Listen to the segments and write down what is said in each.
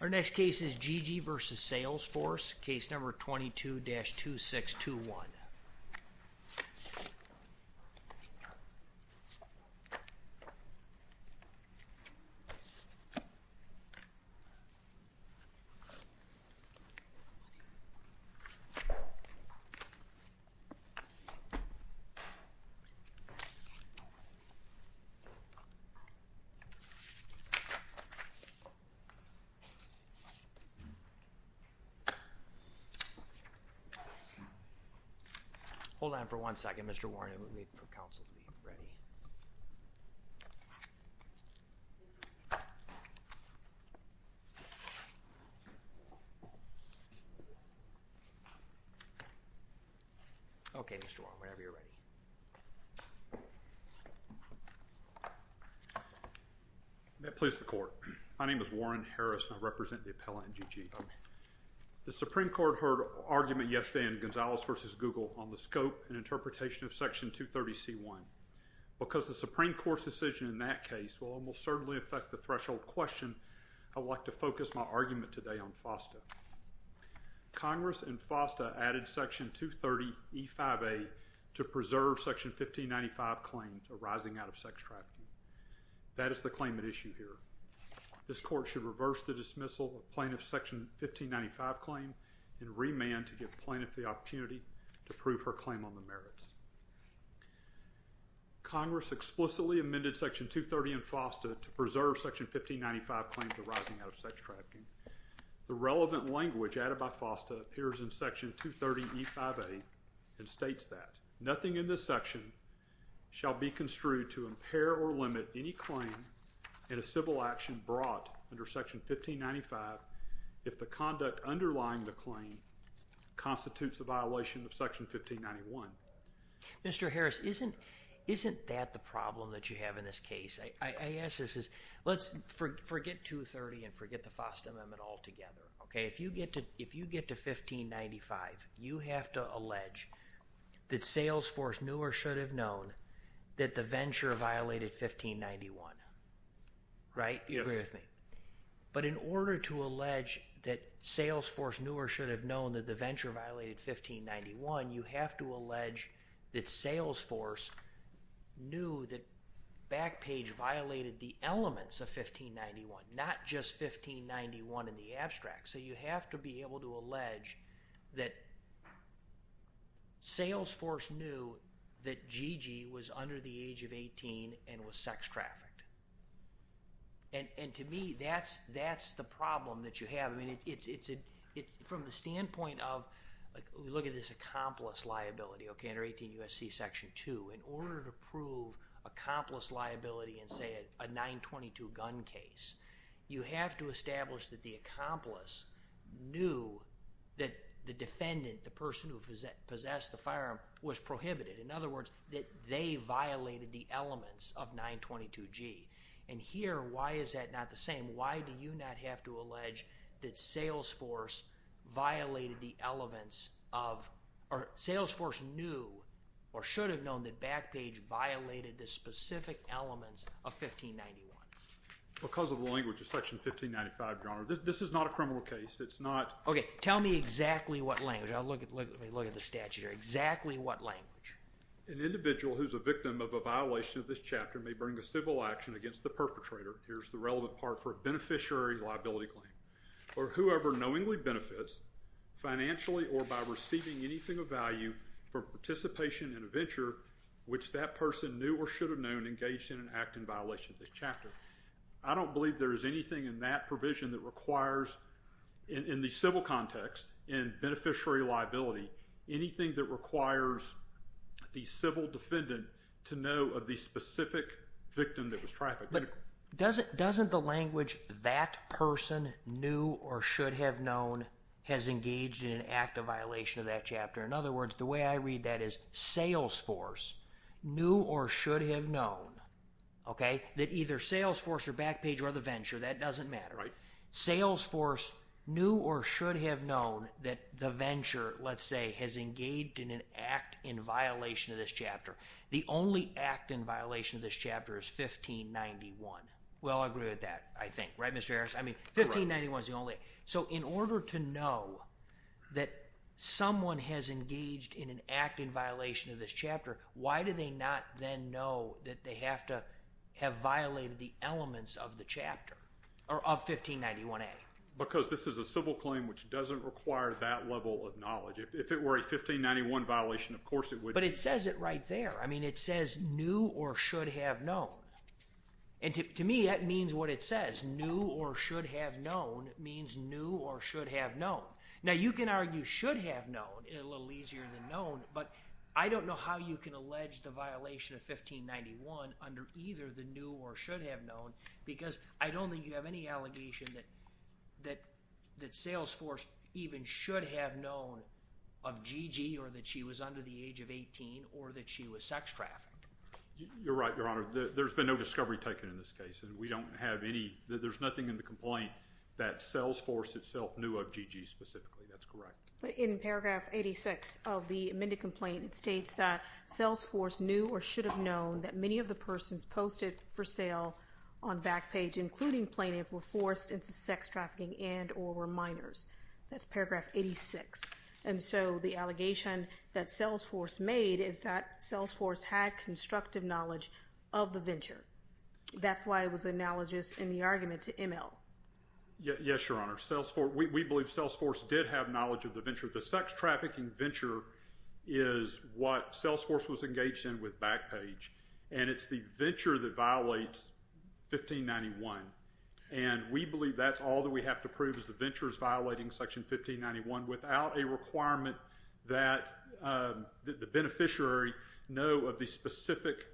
Our next case is G.G. v. Salesforce, case number 22-2621. Hold on for one second, Mr. Warren, it will need for counsel to be ready. Okay, Mr. Warren, whenever you're ready. May it please the court, my name is Warren Harris and I represent the appellant in G.G. The Supreme Court heard argument yesterday in Gonzales v. Google on the scope and interpretation of Section 230c-1. Because the Supreme Court's decision in that case will almost certainly affect the threshold question, I would like to focus my argument today on FOSTA. Congress in FOSTA added Section 230e-5a to preserve Section 1595 claims arising out of sex trafficking. That is the claim at issue here. This court should reverse the dismissal of plaintiff's Section 1595 claim and remand to give plaintiff the opportunity to prove her claim on the merits. Congress explicitly amended Section 230 in FOSTA to preserve Section 1595 claims arising out of sex trafficking. The relevant language added by FOSTA appears in Section 230e-5a and states that nothing in this section shall be construed to impair or limit any claim in a civil action brought under Section 1595 if the conduct underlying the claim constitutes a violation of Section 1591. Mr. Harris, isn't that the problem that you have in this case? Let's forget 230 and forget the FOSTA amendment altogether. If you get to 1595, you have to allege that Salesforce knew or should have known that the venture violated 1591. Right? Yes. Agree with me. But in order to allege that Salesforce knew or should have known that the venture violated 1591, you have to allege that Salesforce knew that Backpage violated the elements of 1591, not just 1591 in the abstract. So you have to be able to allege that Salesforce knew that Gigi was under the age of 18 and was sex trafficked. And to me, that's the problem that you have. From the standpoint of, look at this accomplice liability under 18 U.S.C. Section 2. In order to prove accomplice liability in, say, a 922 gun case, you have to establish that the accomplice knew that the defendant, the person who possessed the firearm, was prohibited. In other words, that they violated the elements of 922G. And here, why is that not the same? Why do you not have to allege that Salesforce violated the elements of—or Salesforce knew or should have known that Backpage violated the specific elements of 1591? Because of the language of Section 1595, John. This is not a criminal case. It's not— Okay. Tell me exactly what language. I'll look at the statute here. Exactly what language? An individual who's a victim of a violation of this chapter may bring a civil action against the perpetrator. Here's the relevant part for a beneficiary liability claim. Or whoever knowingly benefits financially or by receiving anything of value from participation in a venture which that person knew or should have known engaged in an act in violation of this chapter. I don't believe there is anything in that provision that requires, in the civil context, in beneficiary liability, anything that requires the civil defendant to know of the specific victim that was trafficked. But doesn't the language, that person knew or should have known, has engaged in an act of violation of that chapter? In other words, the way I read that is Salesforce knew or should have known, okay, that either Salesforce or Backpage or the venture, that doesn't matter. Right. Salesforce knew or should have known that the venture, let's say, has engaged in an act in violation of this chapter. The only act in violation of this chapter is 1591. Well, I agree with that, I think. Right, Mr. Harris? You're right. I mean, 1591 is the only— So in order to know that someone has engaged in an act in violation of this chapter, why do they not then know that they have to have violated the elements of the chapter, or of 1591A? Because this is a civil claim which doesn't require that level of knowledge. If it were a 1591 violation, of course it would— But it says it right there. I mean, it says knew or should have known. And to me, that means what it says. Knew or should have known means knew or should have known. Now, you can argue should have known a little easier than known, but I don't know how you can allege the violation of 1591 under either the knew or should have known because I don't think you have any allegation that Salesforce even should have known of Gigi or that she was under the age of 18 or that she was sex trafficked. You're right, Your Honor. There's been no discovery taken in this case, and we don't have any—there's nothing in the complaint that Salesforce itself knew of Gigi specifically. That's correct. But in paragraph 86 of the amended complaint, it states that Salesforce knew or should have known that many of the persons posted for sale on Backpage, including plaintiff, were forced into sex trafficking and or were minors. That's paragraph 86. And so the allegation that Salesforce made is that Salesforce had constructive knowledge of the venture. That's why it was analogous in the argument to ML. Yes, Your Honor. We believe Salesforce did have knowledge of the venture. The sex trafficking venture is what Salesforce was engaged in with Backpage, and it's the venture that violates 1591. And we believe that's all that we have to prove is the venture is violating section 1591 without a requirement that the beneficiary know of the specific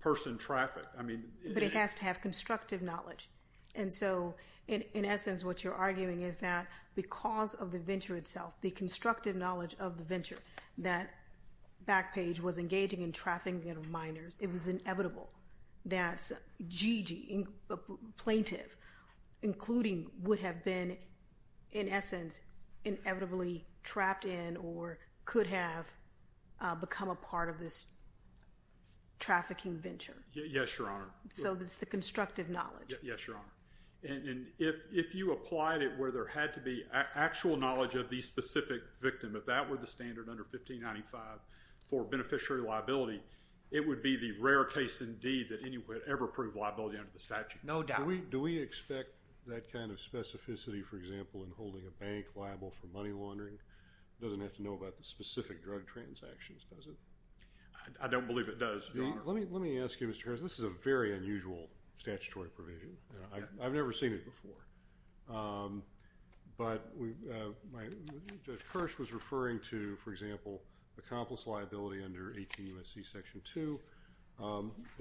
person trafficked. But it has to have constructive knowledge. And so, in essence, what you're arguing is that because of the venture itself, the constructive knowledge of the venture, that Backpage was engaging in trafficking of minors, it was inevitable that Gigi, plaintiff, including, would have been, in essence, inevitably trapped in or could have become a part of this trafficking venture. Yes, Your Honor. So it's the constructive knowledge. Yes, Your Honor. And if you applied it where there had to be actual knowledge of the specific victim, if that were the standard under 1595 for beneficiary liability, it would be the rare case indeed that anyone would ever prove liability under the statute. No doubt. Do we expect that kind of specificity, for example, in holding a bank liable for money laundering? It doesn't have to know about the specific drug transactions, does it? I don't believe it does, Your Honor. Let me ask you, Mr. Harris, this is a very unusual statutory provision. I've never seen it before. But Judge Kirsch was referring to, for example, accomplice liability under 18 U.S.C. Section 2.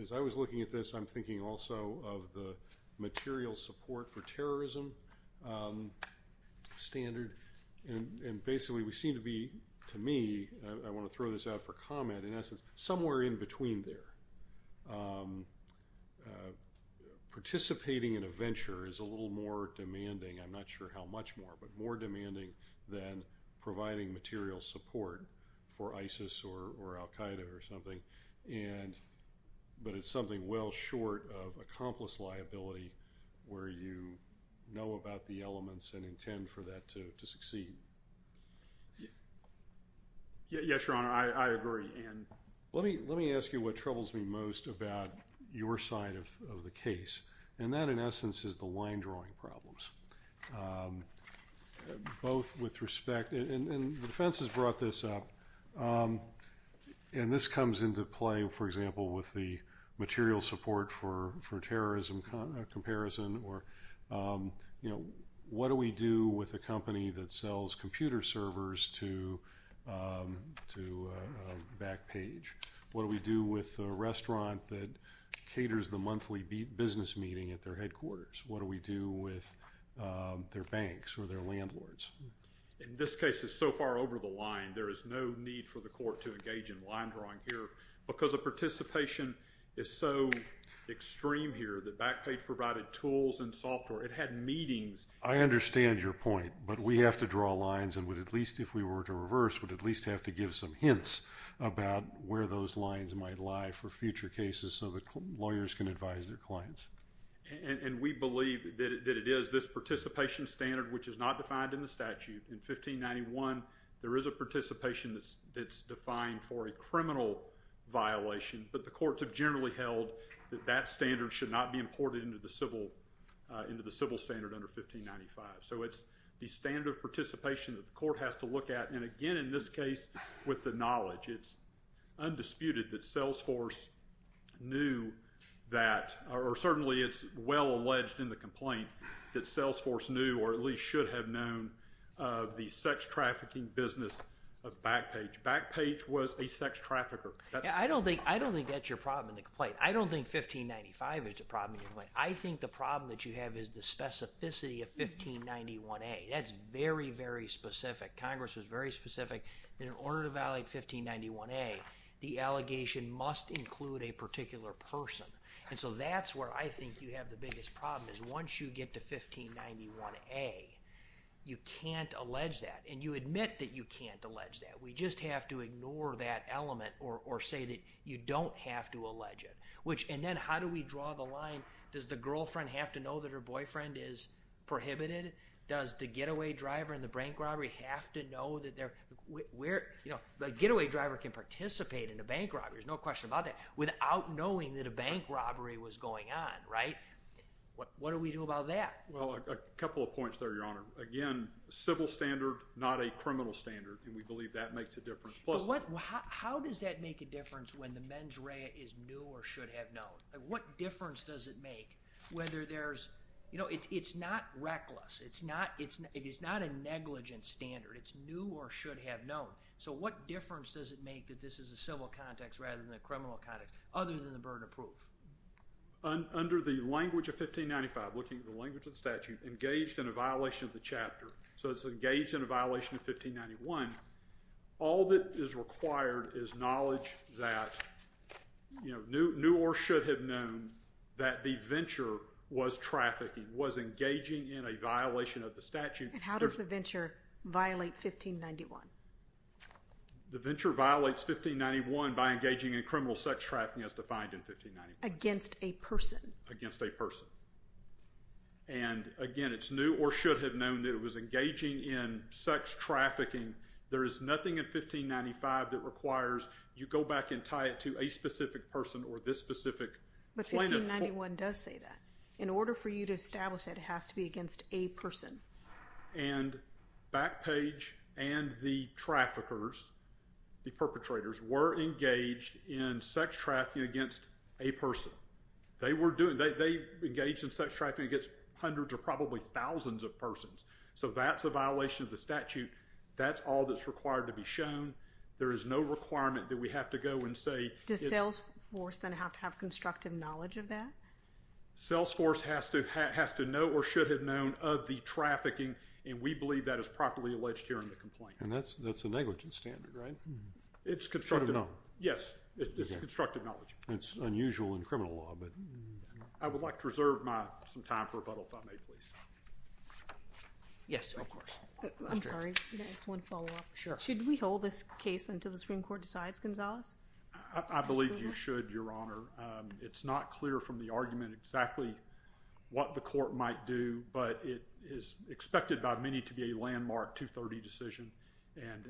As I was looking at this, I'm thinking also of the material support for terrorism standard. And basically we seem to be, to me, I want to throw this out for comment, in essence, somewhere in between there. Participating in a venture is a little more demanding. I'm not sure how much more, but more demanding than providing material support for ISIS or al-Qaeda or something. But it's something well short of accomplice liability where you know about the elements and intend for that to succeed. Yes, Your Honor, I agree. Let me ask you what troubles me most about your side of the case. And that, in essence, is the line drawing problems. Both with respect, and the defense has brought this up. And this comes into play, for example, with the material support for terrorism comparison. What do we do with a company that sells computer servers to Backpage? What do we do with a restaurant that caters the monthly business meeting at their headquarters? What do we do with their banks or their landlords? In this case, it's so far over the line, there is no need for the court to engage in line drawing here. Because the participation is so extreme here that Backpage provided tools and software. It had meetings. I understand your point. But we have to draw lines and would at least, if we were to reverse, would at least have to give some hints about where those lines might lie for future cases so that lawyers can advise their clients. And we believe that it is this participation standard, which is not defined in the statute. In 1591, there is a participation that's defined for a criminal violation. But the courts have generally held that that standard should not be imported into the civil standard under 1595. So it's the standard of participation that the court has to look at. And again, in this case, with the knowledge, it's undisputed that Salesforce knew that or certainly it's well alleged in the complaint that Salesforce knew or at least should have known of the sex trafficking business of Backpage. Backpage was a sex trafficker. I don't think that's your problem in the complaint. I don't think 1595 is the problem in the complaint. I think the problem that you have is the specificity of 1591A. That's very, very specific. Congress was very specific that in order to violate 1591A, the allegation must include a particular person. And so that's where I think you have the biggest problem is once you get to 1591A, you can't allege that. And you admit that you can't allege that. We just have to ignore that element or say that you don't have to allege it. And then how do we draw the line? Does the girlfriend have to know that her boyfriend is prohibited? Does the getaway driver and the bank robbery have to know that they're – where – you know, the getaway driver can participate in a bank robbery. There's no question about that. Without knowing that a bank robbery was going on, right? What do we do about that? Well, a couple of points there, Your Honor. Again, civil standard, not a criminal standard, and we believe that makes a difference. But what – how does that make a difference when the mens rea is new or should have known? What difference does it make whether there's – you know, it's not reckless. It's not a negligent standard. It's new or should have known. So what difference does it make that this is a civil context rather than a criminal context other than the burden of proof? Under the language of 1595, looking at the language of the statute, engaged in a violation of the chapter. So it's engaged in a violation of 1591. All that is required is knowledge that – you know, new or should have known that the venture was trafficking, was engaging in a violation of the statute. And how does the venture violate 1591? The venture violates 1591 by engaging in criminal sex trafficking as defined in 1591. Against a person. And again, it's new or should have known that it was engaging in sex trafficking. There is nothing in 1595 that requires you go back and tie it to a specific person or this specific plaintiff. But 1591 does say that. In order for you to establish that, it has to be against a person. And Backpage and the traffickers, the perpetrators, were engaged in sex trafficking against a person. They were doing – they engaged in sex trafficking against hundreds or probably thousands of persons. So that's a violation of the statute. That's all that's required to be shown. There is no requirement that we have to go and say – Does Salesforce then have to have constructive knowledge of that? Salesforce has to know or should have known of the trafficking, and we believe that is properly alleged here in the complaint. And that's a negligence standard, right? It's constructive. Should have known. Yes, it's constructive knowledge. It's unusual in criminal law. I would like to reserve my – some time for rebuttal, if I may, please. Yes, of course. I'm sorry. Can I ask one follow-up? Sure. Should we hold this case until the Supreme Court decides, Gonzalez? I believe you should, Your Honor. It's not clear from the argument exactly what the court might do, but it is expected by many to be a landmark 230 decision. And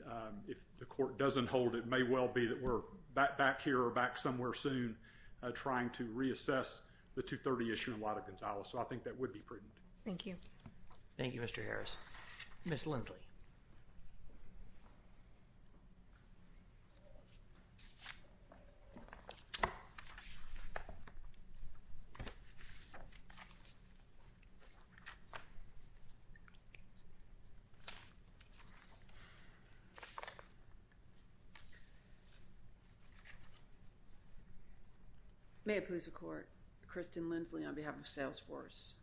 if the court doesn't hold it, it may well be that we're back here or back somewhere soon trying to reassess the 230 issue in light of Gonzalez. So I think that would be prudent. Thank you. Thank you, Mr. Harris. Ms. Lindsley. May it please the Court. Kristen Lindsley on behalf of Salesforce.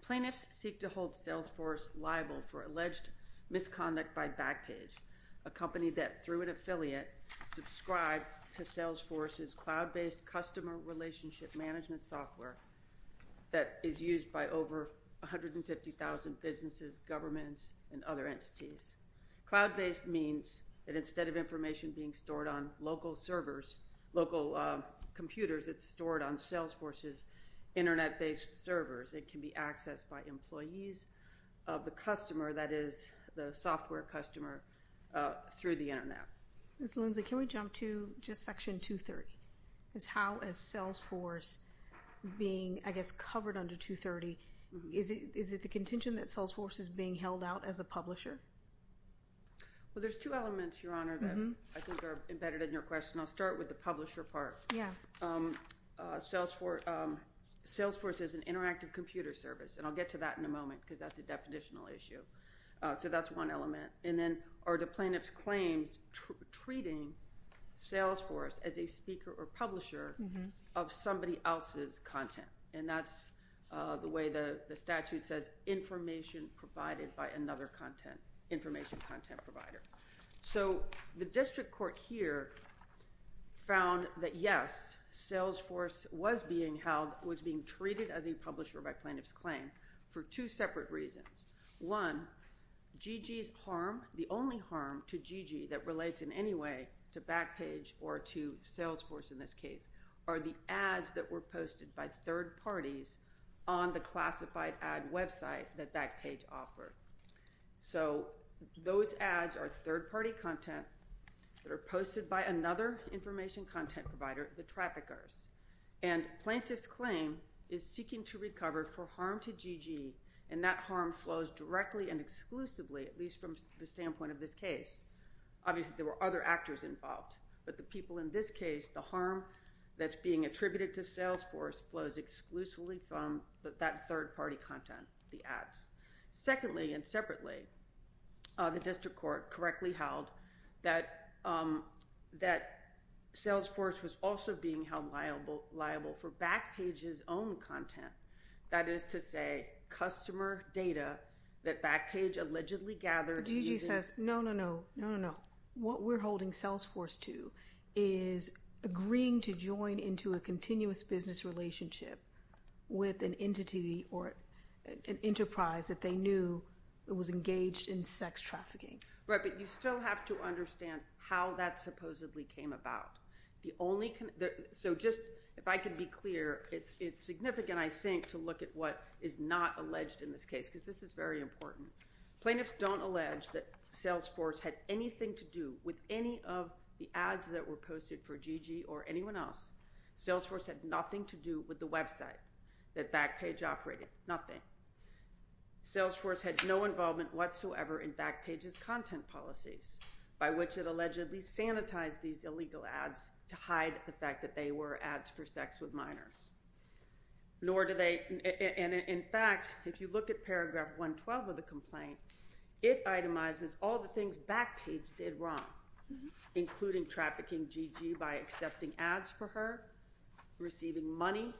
Plaintiffs seek to hold Salesforce liable for alleged misconduct by Backpage, a company that, through an affiliate, subscribed to Salesforce's cloud-based customer relationship management software that is used by over 150,000 businesses, governments, and other entities. Cloud-based means that instead of information being stored on local servers, local computers, it's stored on Salesforce's Internet-based servers. It can be accessed by employees of the customer that is the software customer through the Internet. Ms. Lindsley, can we jump to just Section 230? How is Salesforce being, I guess, covered under 230? Is it the contention that Salesforce is being held out as a publisher? Well, there's two elements, Your Honor, that I think are embedded in your question. I'll start with the publisher part. Yeah. Salesforce is an interactive computer service, and I'll get to that in a moment because that's a definitional issue. So that's one element. And then are the plaintiff's claims treating Salesforce as a speaker or publisher of somebody else's content? And that's the way the statute says information provided by another content, information content provider. So the district court here found that, yes, Salesforce was being held, was being treated as a publisher by plaintiff's claim for two separate reasons. One, GG's harm, the only harm to GG that relates in any way to Backpage or to Salesforce in this case, are the ads that were posted by third parties on the classified ad website that Backpage offered. So those ads are third-party content that are posted by another information content provider, the traffickers. And plaintiff's claim is seeking to recover for harm to GG, and that harm flows directly and exclusively, at least from the standpoint of this case. Obviously, there were other actors involved. But the people in this case, the harm that's being attributed to Salesforce flows exclusively from that third-party content, the ads. Secondly, and separately, the district court correctly held that Salesforce was also being held liable for Backpage's own content. That is to say, customer data that Backpage allegedly gathered using- was engaged in sex trafficking. Right, but you still have to understand how that supposedly came about. The only- so just, if I could be clear, it's significant, I think, to look at what is not alleged in this case, because this is very important. Plaintiffs don't allege that Salesforce had anything to do with any of the ads that were posted for GG or anyone else. Salesforce had nothing to do with the website that Backpage operated, nothing. Salesforce had no involvement whatsoever in Backpage's content policies, by which it allegedly sanitized these illegal ads to hide the fact that they were ads for sex with minors. Nor do they- and in fact, if you look at paragraph 112 of the complaint, it itemizes all the things Backpage did wrong, including trafficking GG by accepting ads for her, receiving money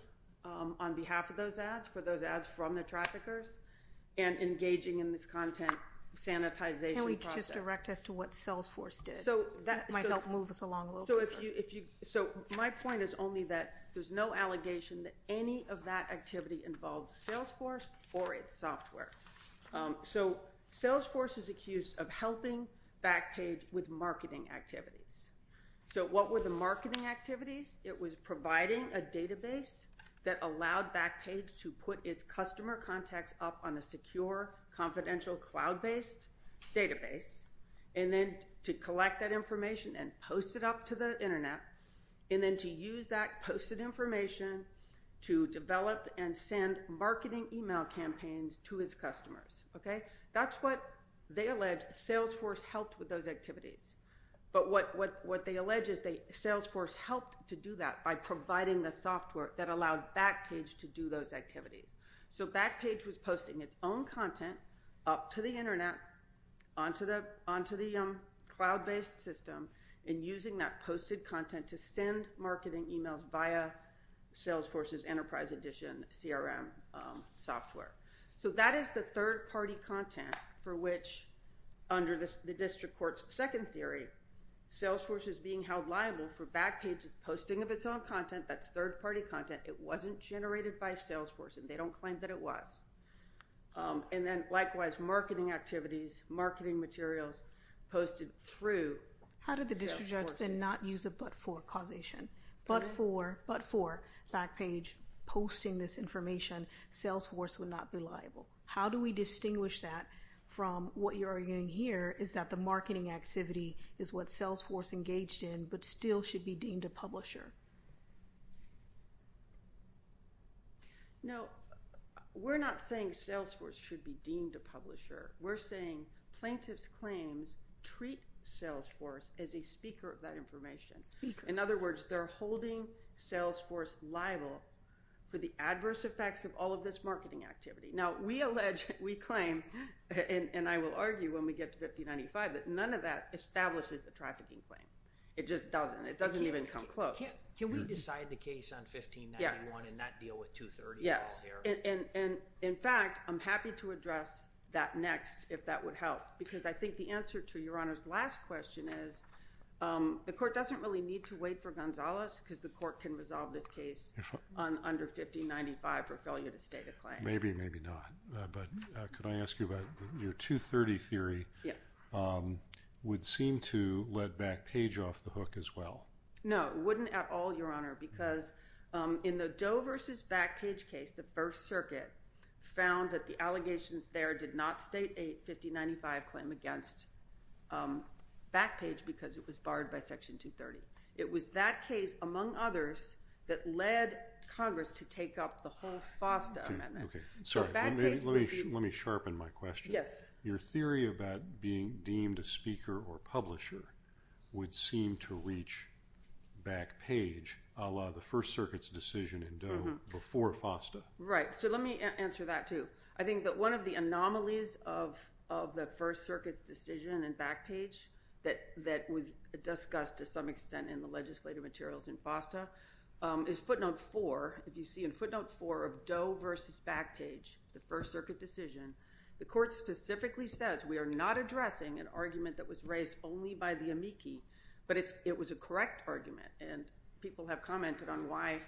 on behalf of those ads for those ads from the traffickers, and engaging in this content sanitization process. Can we just direct as to what Salesforce did? That might help move us along a little bit. So if you- so my point is only that there's no allegation that any of that activity involved Salesforce or its software. So Salesforce is accused of helping Backpage with marketing activities. So what were the marketing activities? It was providing a database that allowed Backpage to put its customer contacts up on a secure, confidential, cloud-based database, and then to collect that information and post it up to the internet, and then to use that posted information to develop and send marketing email campaigns to its customers, okay? That's what they allege Salesforce helped with those activities. But what they allege is that Salesforce helped to do that by providing the software that allowed Backpage to do those activities. So Backpage was posting its own content up to the internet, onto the cloud-based system, and using that posted content to send marketing emails via Salesforce's Enterprise Edition CRM software. So that is the third-party content for which, under the district court's second theory, Salesforce is being held liable for Backpage's posting of its own content. That's third-party content. It wasn't generated by Salesforce, and they don't claim that it was. And then, likewise, marketing activities, marketing materials posted through Salesforce. How did the district judge then not use a but-for causation? Pardon? But-for Backpage posting this information, Salesforce would not be liable. How do we distinguish that from what you're arguing here, is that the marketing activity is what Salesforce engaged in, but still should be deemed a publisher? No, we're not saying Salesforce should be deemed a publisher. We're saying plaintiff's claims treat Salesforce as a speaker of that information. Speaker. In other words, they're holding Salesforce liable for the adverse effects of all of this marketing activity. Now, we allege, we claim, and I will argue when we get to 1595, that none of that establishes a trafficking claim. It just doesn't. It doesn't even come close. Can we decide the case on 1591 and not deal with 230 at all here? Yes. And, in fact, I'm happy to address that next, if that would help. Because I think the answer to Your Honor's last question is the court doesn't really need to wait for Gonzalez because the court can resolve this case under 1595 for failure to state a claim. Maybe, maybe not. But could I ask you about your 230 theory? Yeah. Would seem to let Backpage off the hook as well. No, it wouldn't at all, Your Honor, because in the Doe versus Backpage case, the First Circuit found that the allegations there did not state a 1595 claim against Backpage because it was barred by Section 230. It was that case, among others, that led Congress to take up the whole FOSTA amendment. Okay. Sorry, let me sharpen my question. Yes. Your theory about being deemed a speaker or publisher would seem to reach Backpage, a la the First Circuit's decision in Doe before FOSTA. Right. So let me answer that, too. I think that one of the anomalies of the First Circuit's decision in Backpage that was discussed to some extent in the legislative materials in FOSTA is footnote four. If you see in footnote four of Doe versus Backpage, the First Circuit decision, the court specifically says we are not addressing an argument that was raised only by the amici, but it was a correct argument, and people have commented on why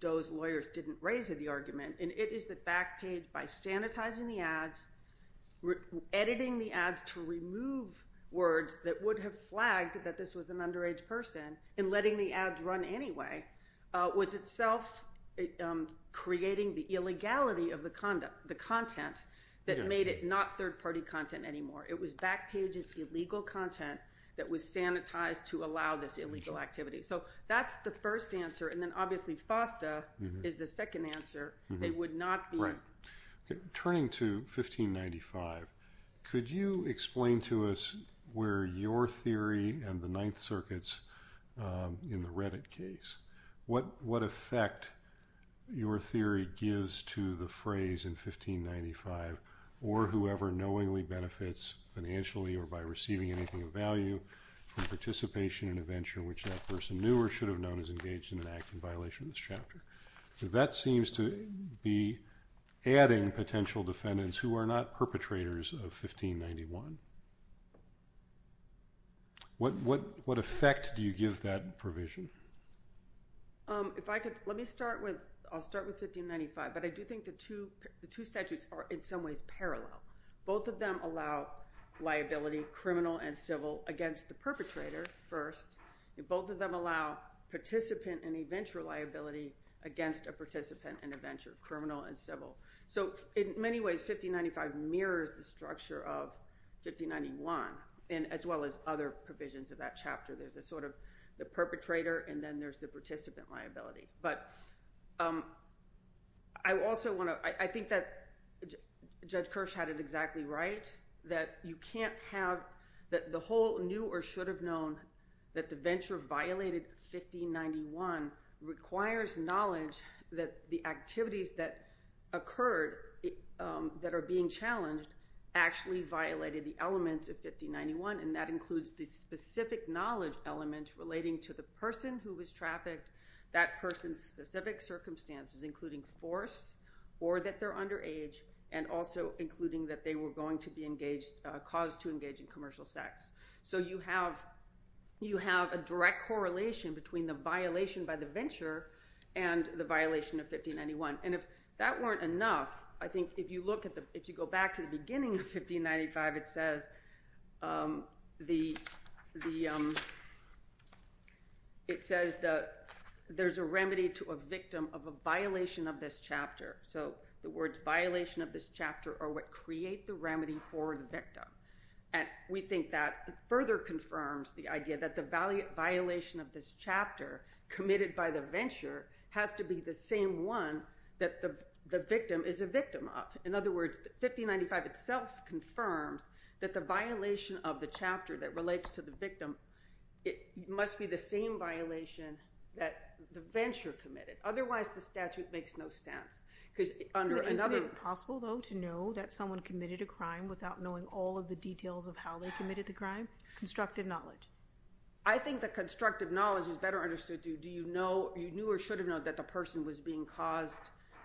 Doe's lawyers didn't raise the argument, and it is that Backpage, by sanitizing the ads, editing the ads to remove words that would have flagged that this was an underage person and letting the ads run anyway, was itself creating the illegality of the content that made it not third-party content anymore. It was Backpage's illegal content that was sanitized to allow this illegal activity. So that's the first answer, and then obviously FOSTA is the second answer. They would not be. Right. Turning to 1595, could you explain to us where your theory and the Ninth Circuit's in the Reddit case, what effect your theory gives to the phrase in 1595, or whoever knowingly benefits financially or by receiving anything of value from participation in a venture which that person knew or should have known is engaged in an act in violation of this chapter? Because that seems to be adding potential defendants who are not perpetrators of 1591. What effect do you give that provision? Let me start with 1595, but I do think the two statutes are in some ways parallel. Both of them allow liability, criminal and civil, against the perpetrator first. Both of them allow participant and eventual liability against a participant in a venture, criminal and civil. So in many ways, 1595 mirrors the structure of 1591, as well as other provisions of that chapter. There's a sort of the perpetrator, and then there's the participant liability. But I also want to – I think that Judge Kirsch had it exactly right, that you can't have – that the whole knew or should have known that the venture violated 1591 requires knowledge that the activities that occurred that are being challenged actually violated the elements of 1591, and that includes the specific knowledge element relating to the person who was trafficked, that person's specific circumstances, including force or that they're underage, and also including that they were going to be engaged – caused to engage in commercial sex. So you have a direct correlation between the violation by the venture and the violation of 1591. And if that weren't enough, I think if you look at the – if you go back to the beginning of 1595, it says the – it says that there's a remedy to a victim of a violation of this chapter. So the words violation of this chapter are what create the remedy for the victim. And we think that further confirms the idea that the violation of this chapter committed by the venture has to be the same one that the victim is a victim of. In other words, 1595 itself confirms that the violation of the chapter that relates to the victim, it must be the same violation that the venture committed. Otherwise, the statute makes no sense because under another – Is it possible, though, to know that someone committed a crime without knowing all of the details of how they committed the crime? Constructive knowledge. I think the constructive knowledge is better understood. Do you know – you knew or should have known that the person was being caused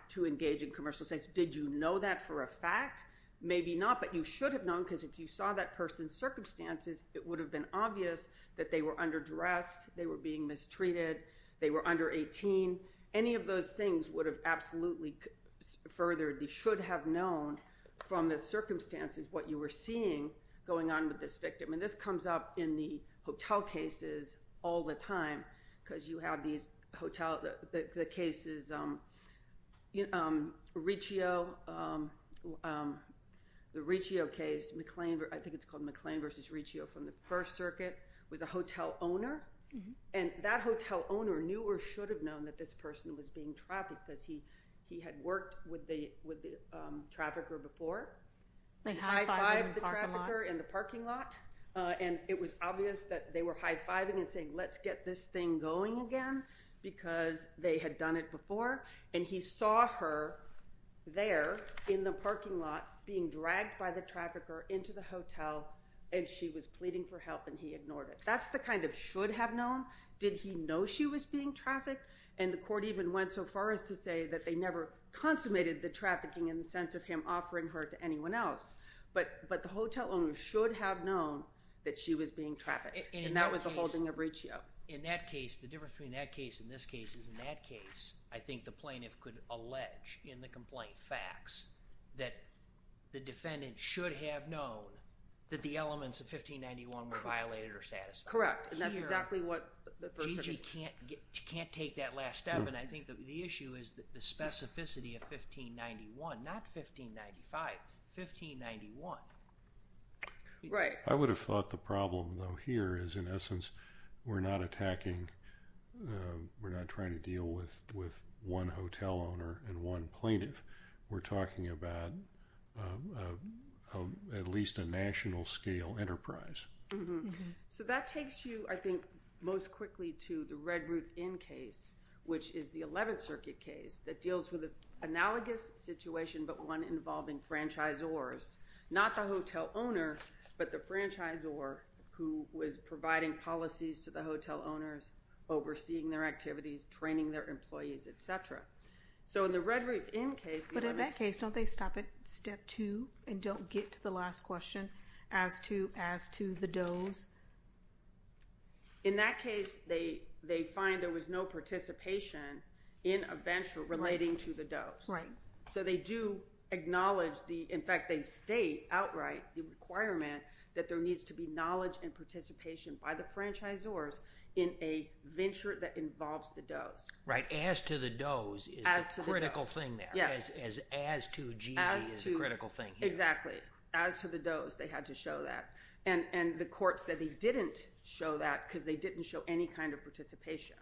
to engage in commercial sex. Did you know that for a fact? Maybe not, but you should have known because if you saw that person's circumstances, it would have been obvious that they were under duress, they were being mistreated, they were under 18. Any of those things would have absolutely furthered – you should have known from the circumstances what you were seeing going on with this victim. And this comes up in the hotel cases all the time because you have these hotel – the cases – Riccio, the Riccio case, I think it's called McLean v. Riccio from the First Circuit, was a hotel owner. And that hotel owner knew or should have known that this person was being trafficked because he had worked with the trafficker before. They high-fived the trafficker in the parking lot. And it was obvious that they were high-fiving and saying, let's get this thing going again because they had done it before. And he saw her there in the parking lot being dragged by the trafficker into the hotel and she was pleading for help and he ignored it. That's the kind of should have known. Did he know she was being trafficked? And the court even went so far as to say that they never consummated the trafficking in the sense of him offering her to anyone else. But the hotel owner should have known that she was being trafficked. And that was the holding of Riccio. In that case, the difference between that case and this case is in that case, I think the plaintiff could allege in the complaint facts that the defendant should have known that the elements of 1591 were violated or satisfied. Correct. And that's exactly what the First Circuit – not 1595, 1591. Right. I would have thought the problem though here is in essence we're not attacking – we're not trying to deal with one hotel owner and one plaintiff. We're talking about at least a national scale enterprise. So that takes you, I think, most quickly to the Redruth Inn case, which is the Eleventh Circuit case that deals with an analogous situation but one involving franchisors. Not the hotel owner, but the franchisor who was providing policies to the hotel owners, overseeing their activities, training their employees, et cetera. So in the Redruth Inn case – But in that case, don't they stop at step two and don't get to the last question as to the does? In that case, they find there was no participation in a venture relating to the does. Right. So they do acknowledge the – in fact, they state outright the requirement that there needs to be knowledge and participation by the franchisors in a venture that involves the does. Right. As to the does is the critical thing there. Yes. As to GG is the critical thing here. Exactly. As to the does, they had to show that. And the courts said they didn't show that because they didn't show any kind of participation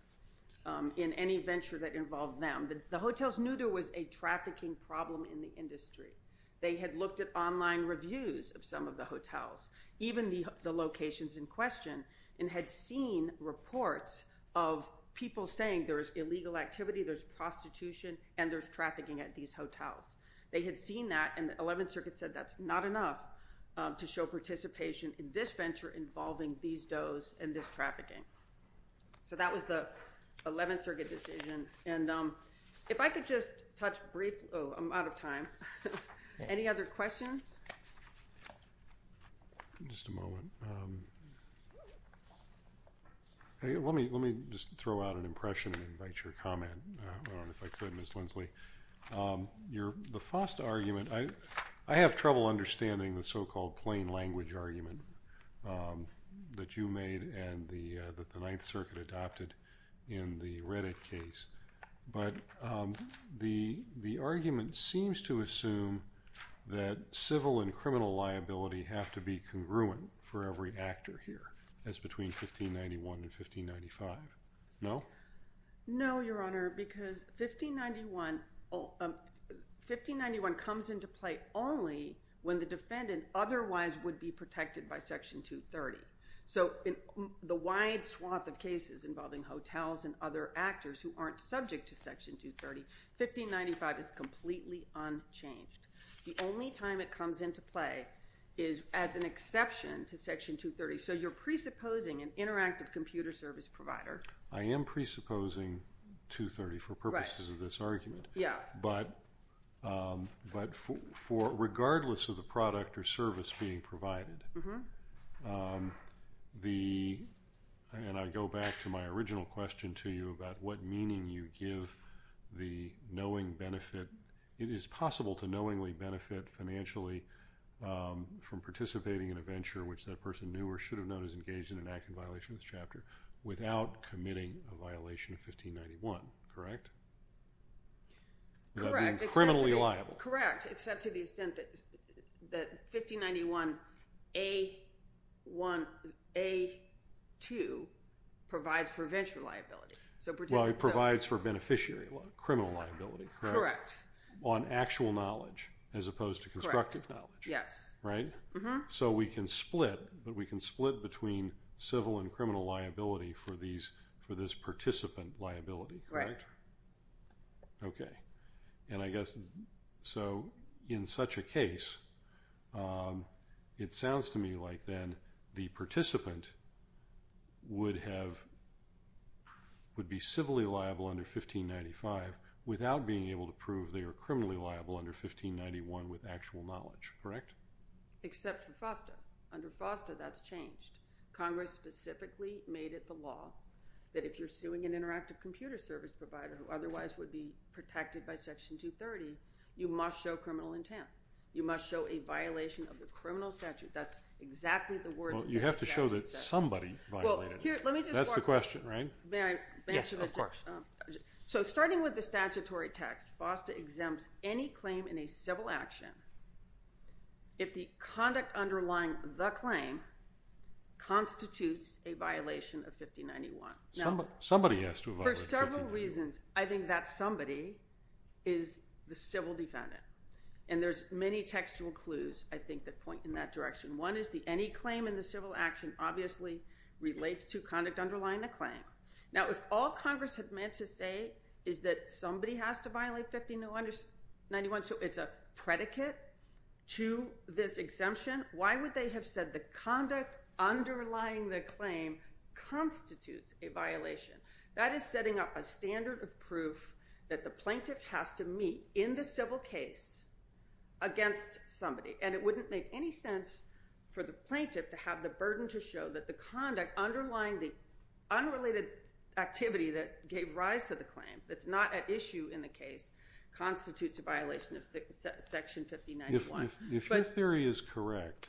in any venture that involved them. The hotels knew there was a trafficking problem in the industry. They had looked at online reviews of some of the hotels, even the locations in question, and had seen reports of people saying there's illegal activity, there's prostitution, and there's trafficking at these hotels. They had seen that, and the Eleventh Circuit said that's not enough to show participation in this venture involving these does and this trafficking. So that was the Eleventh Circuit decision. And if I could just touch briefly – oh, I'm out of time. Any other questions? Just a moment. Let me just throw out an impression and invite your comment, if I could, Ms. Lindsley. The Faust argument – I have trouble understanding the so-called plain language argument that you made and that the Ninth Circuit adopted in the Reddit case. But the argument seems to assume that civil and criminal liability have to be congruent for every actor here. That's between 1591 and 1595. No? No, Your Honor, because 1591 comes into play only when the defendant otherwise would be protected by Section 230. So in the wide swath of cases involving hotels and other actors who aren't subject to Section 230, 1595 is completely unchanged. The only time it comes into play is as an exception to Section 230. So you're presupposing an interactive computer service provider. I am presupposing 230 for purposes of this argument. But regardless of the product or service being provided, and I go back to my original question to you about what meaning you give the knowing benefit – it is possible to knowingly benefit financially from participating in a venture, which that person knew or should have known is engaged in an act in violation of this chapter, without committing a violation of 1591, correct? Correct. That means criminally liable. Correct, except to the extent that 1591A2 provides for venture liability. Well, it provides for beneficiary criminal liability, correct? Correct. On actual knowledge as opposed to constructive knowledge. Correct. Yes. Right? So we can split, but we can split between civil and criminal liability for this participant liability, correct? Right. Okay. And I guess, so in such a case, it sounds to me like then the participant would be civilly liable under 1595 without being able to prove they are criminally liable under 1591 with actual knowledge, correct? Except for FOSTA. Under FOSTA, that's changed. Congress specifically made it the law that if you're suing an interactive computer service provider who otherwise would be protected by Section 230, you must show criminal intent. You must show a violation of the criminal statute. That's exactly the words that the statute says. Well, you have to show that somebody violated it. That's the question, right? May I answer that? Yes, of course. So starting with the statutory text, FOSTA exempts any claim in a civil action if the conduct underlying the claim constitutes a violation of 1591. Somebody has to violate 1591. For several reasons, I think that somebody is the civil defendant, and there's many textual clues, I think, that point in that direction. One is that any claim in the civil action obviously relates to conduct underlying the claim. Now, if all Congress had meant to say is that somebody has to violate 1591 so it's a predicate to this exemption, why would they have said the conduct underlying the claim constitutes a violation? That is setting up a standard of proof that the plaintiff has to meet in the civil case against somebody, and it wouldn't make any sense for the plaintiff to have the burden to show that the conduct underlying the unrelated activity that gave rise to the claim, that's not at issue in the case, constitutes a violation of Section 1591. If your theory is correct,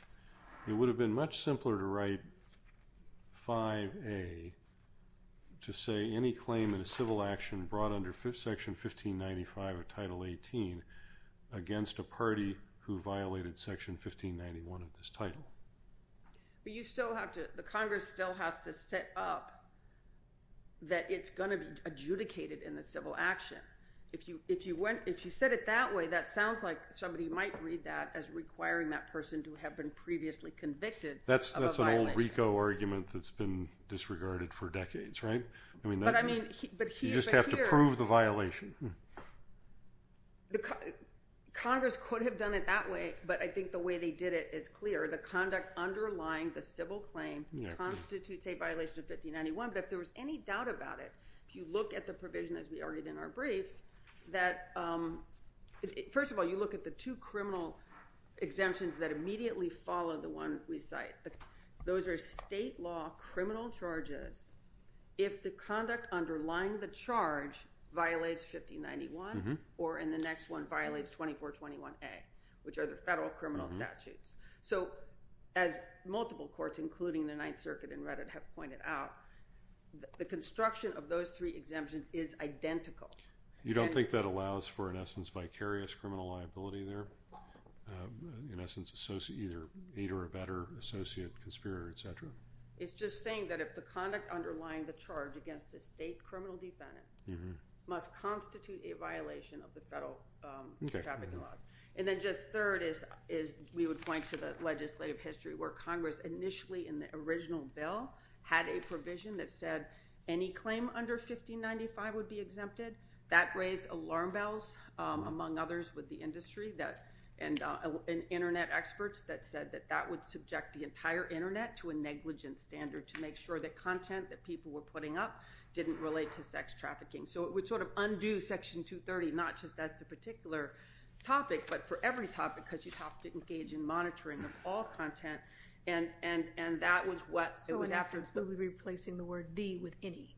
it would have been much simpler to write 5A to say any claim in a civil action brought under Section 1595 of Title 18 against a party who violated Section 1591 of this title. But you still have to—the Congress still has to set up that it's going to be adjudicated in the civil action. If you set it that way, that sounds like somebody might read that as requiring that person to have been previously convicted of a violation. That's an old RICO argument that's been disregarded for decades, right? But I mean— You just have to prove the violation. Congress could have done it that way, but I think the way they did it is clear. The conduct underlying the civil claim constitutes a violation of 1591. But if there was any doubt about it, if you look at the provision, as we argued in our brief, that—first of all, you look at the two criminal exemptions that immediately follow the one we cite. Those are state law criminal charges if the conduct underlying the charge violates 1591 or in the next one violates 2421A, which are the federal criminal statutes. So as multiple courts, including the Ninth Circuit and Reddit, have pointed out, the construction of those three exemptions is identical. You don't think that allows for, in essence, vicarious criminal liability there? In essence, either aid or abettor, associate, conspirator, et cetera? It's just saying that if the conduct underlying the charge against the state criminal defendant must constitute a violation of the federal trafficking laws. And then just third is we would point to the legislative history where Congress, initially in the original bill, had a provision that said any claim under 1595 would be exempted. That raised alarm bells, among others with the industry and Internet experts, that said that that would subject the entire Internet to a negligent standard to make sure that content that people were putting up didn't relate to sex trafficking. So it would sort of undo Section 230, not just as the particular topic, but for every topic, because you'd have to engage in monitoring of all content. And that was what it was after. So in essence, it would be replacing the word the with any,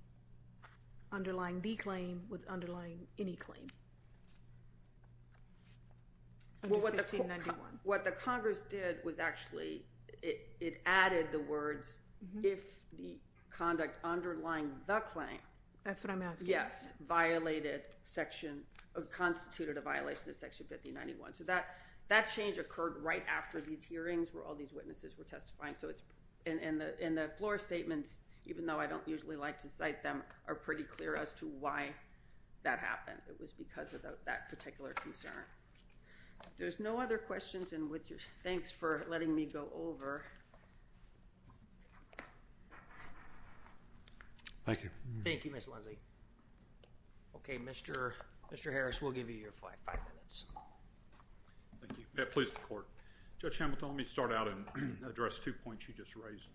underlying the claim with underlying any claim under 1591. What the Congress did was actually it added the words if the conduct underlying the claim. That's what I'm asking. Yes, violated section or constituted a violation of Section 1591. So that change occurred right after these hearings where all these witnesses were testifying. And the floor statements, even though I don't usually like to cite them, are pretty clear as to why that happened. It was because of that particular concern. There's no other questions. Thanks for letting me go over. Thank you. Thank you, Mr. Lindsey. Okay, Mr. Harris, we'll give you your five minutes. Thank you. Please report. Judge Hamilton, let me start out and address two points you just raised.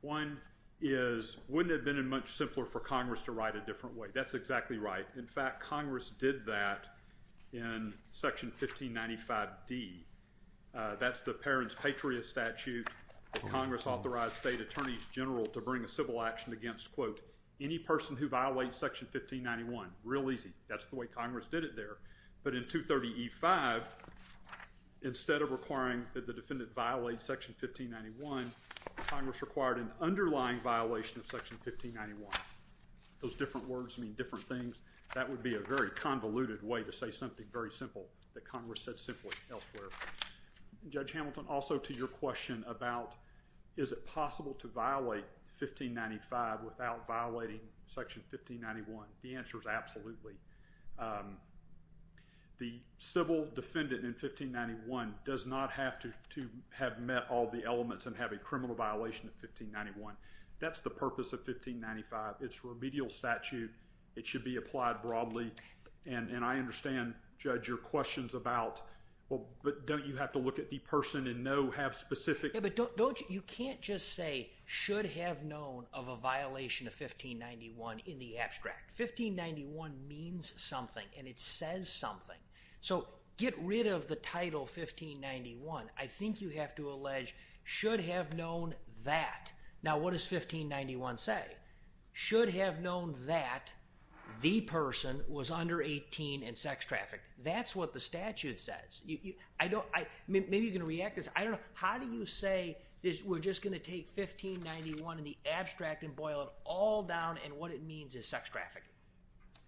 One is it wouldn't have been much simpler for Congress to write a different way. That's exactly right. In fact, Congress did that in Section 1595D. That's the parent's patriot statute. Congress authorized state attorneys general to bring a civil action against, quote, any person who violates Section 1591. Real easy. That's the way Congress did it there. But in 230E5, instead of requiring that the defendant violate Section 1591, Congress required an underlying violation of Section 1591. Those different words mean different things. That would be a very convoluted way to say something very simple that Congress said simply elsewhere. Judge Hamilton, also to your question about is it possible to violate 1595 without violating Section 1591? The answer is absolutely. The civil defendant in 1591 does not have to have met all the elements and have a criminal violation of 1591. That's the purpose of 1595. It's remedial statute. It should be applied broadly. And I understand, Judge, your questions about, well, don't you have to look at the person and know, have specific? Yeah, but you can't just say should have known of a violation of 1591 in the abstract. 1591 means something, and it says something. So get rid of the title 1591. I think you have to allege should have known that. Now, what does 1591 say? Should have known that the person was under 18 and sex trafficked. That's what the statute says. Maybe you can react to this. I don't know. How do you say we're just going to take 1591 in the abstract and boil it all down and what it means is sex trafficking?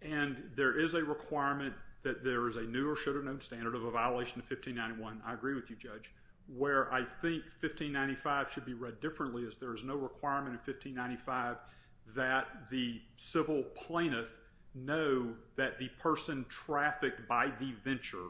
And there is a requirement that there is a new or should have known standard of a violation of 1591. I agree with you, Judge. Where I think 1595 should be read differently is there is no requirement in 1595 that the civil plaintiff know that the person trafficked by the venture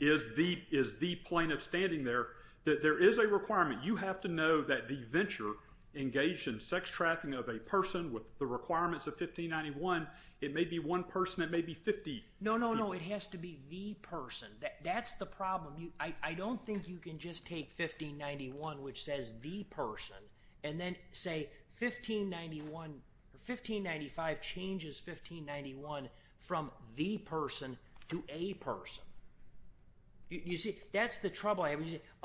is the plaintiff standing there. There is a requirement. You have to know that the venture engaged in sex trafficking of a person with the requirements of 1591. It may be one person. It may be 50. No, no, no. It has to be the person. That's the problem. I don't think you can just take 1591 which says the person and then say 1595 changes 1591 from the person to a person. You see, that's the trouble. A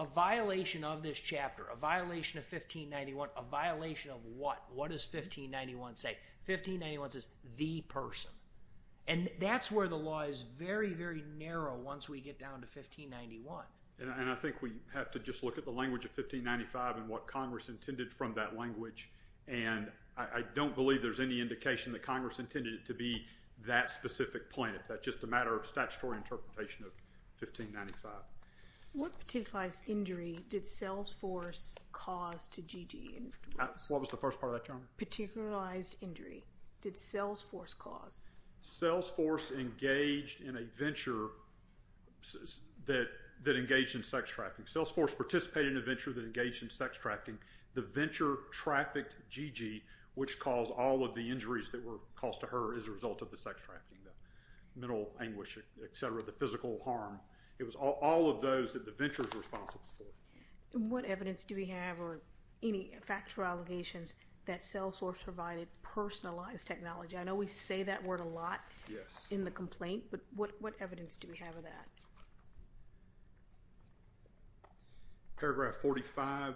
violation of this chapter, a violation of 1591, a violation of what? What does 1591 say? 1591 says the person. That's where the law is very, very narrow once we get down to 1591. I think we have to just look at the language of 1595 and what Congress intended from that language. I don't believe there's any indication that Congress intended it to be that specific plaintiff. That's just a matter of statutory interpretation of 1595. What particular injury did Salesforce cause to Gigi? What was the first part of that, Your Honor? Particularized injury. Did Salesforce cause? Salesforce engaged in a venture that engaged in sex trafficking. Salesforce participated in a venture that engaged in sex trafficking. The venture trafficked Gigi, which caused all of the injuries that were caused to her as a result of the sex trafficking, the mental anguish, et cetera, the physical harm. It was all of those that the venture was responsible for. What evidence do we have or any facts or allegations that Salesforce provided personalized technology? I know we say that word a lot in the complaint, but what evidence do we have of that? Paragraph 45,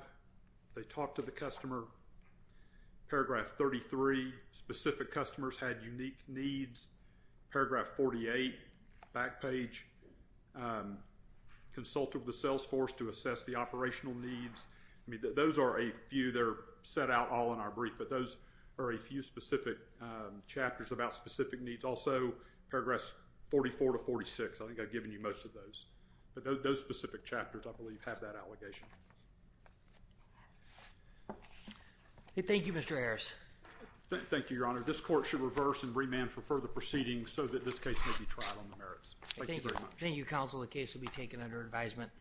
they talked to the customer. Paragraph 33, specific customers had unique needs. Paragraph 48, back page, consulted with the Salesforce to assess the operational needs. Those are a few that are set out all in our brief, but those are a few specific chapters about specific needs. Also, paragraphs 44 to 46, I think I've given you most of those. But those specific chapters, I believe, have that allegation. Thank you, Mr. Harris. Thank you, Your Honor. This court should reverse and remand for further proceedings so that this case may be tried on the merits. Thank you very much. Thank you, counsel. The case will be taken under advisement.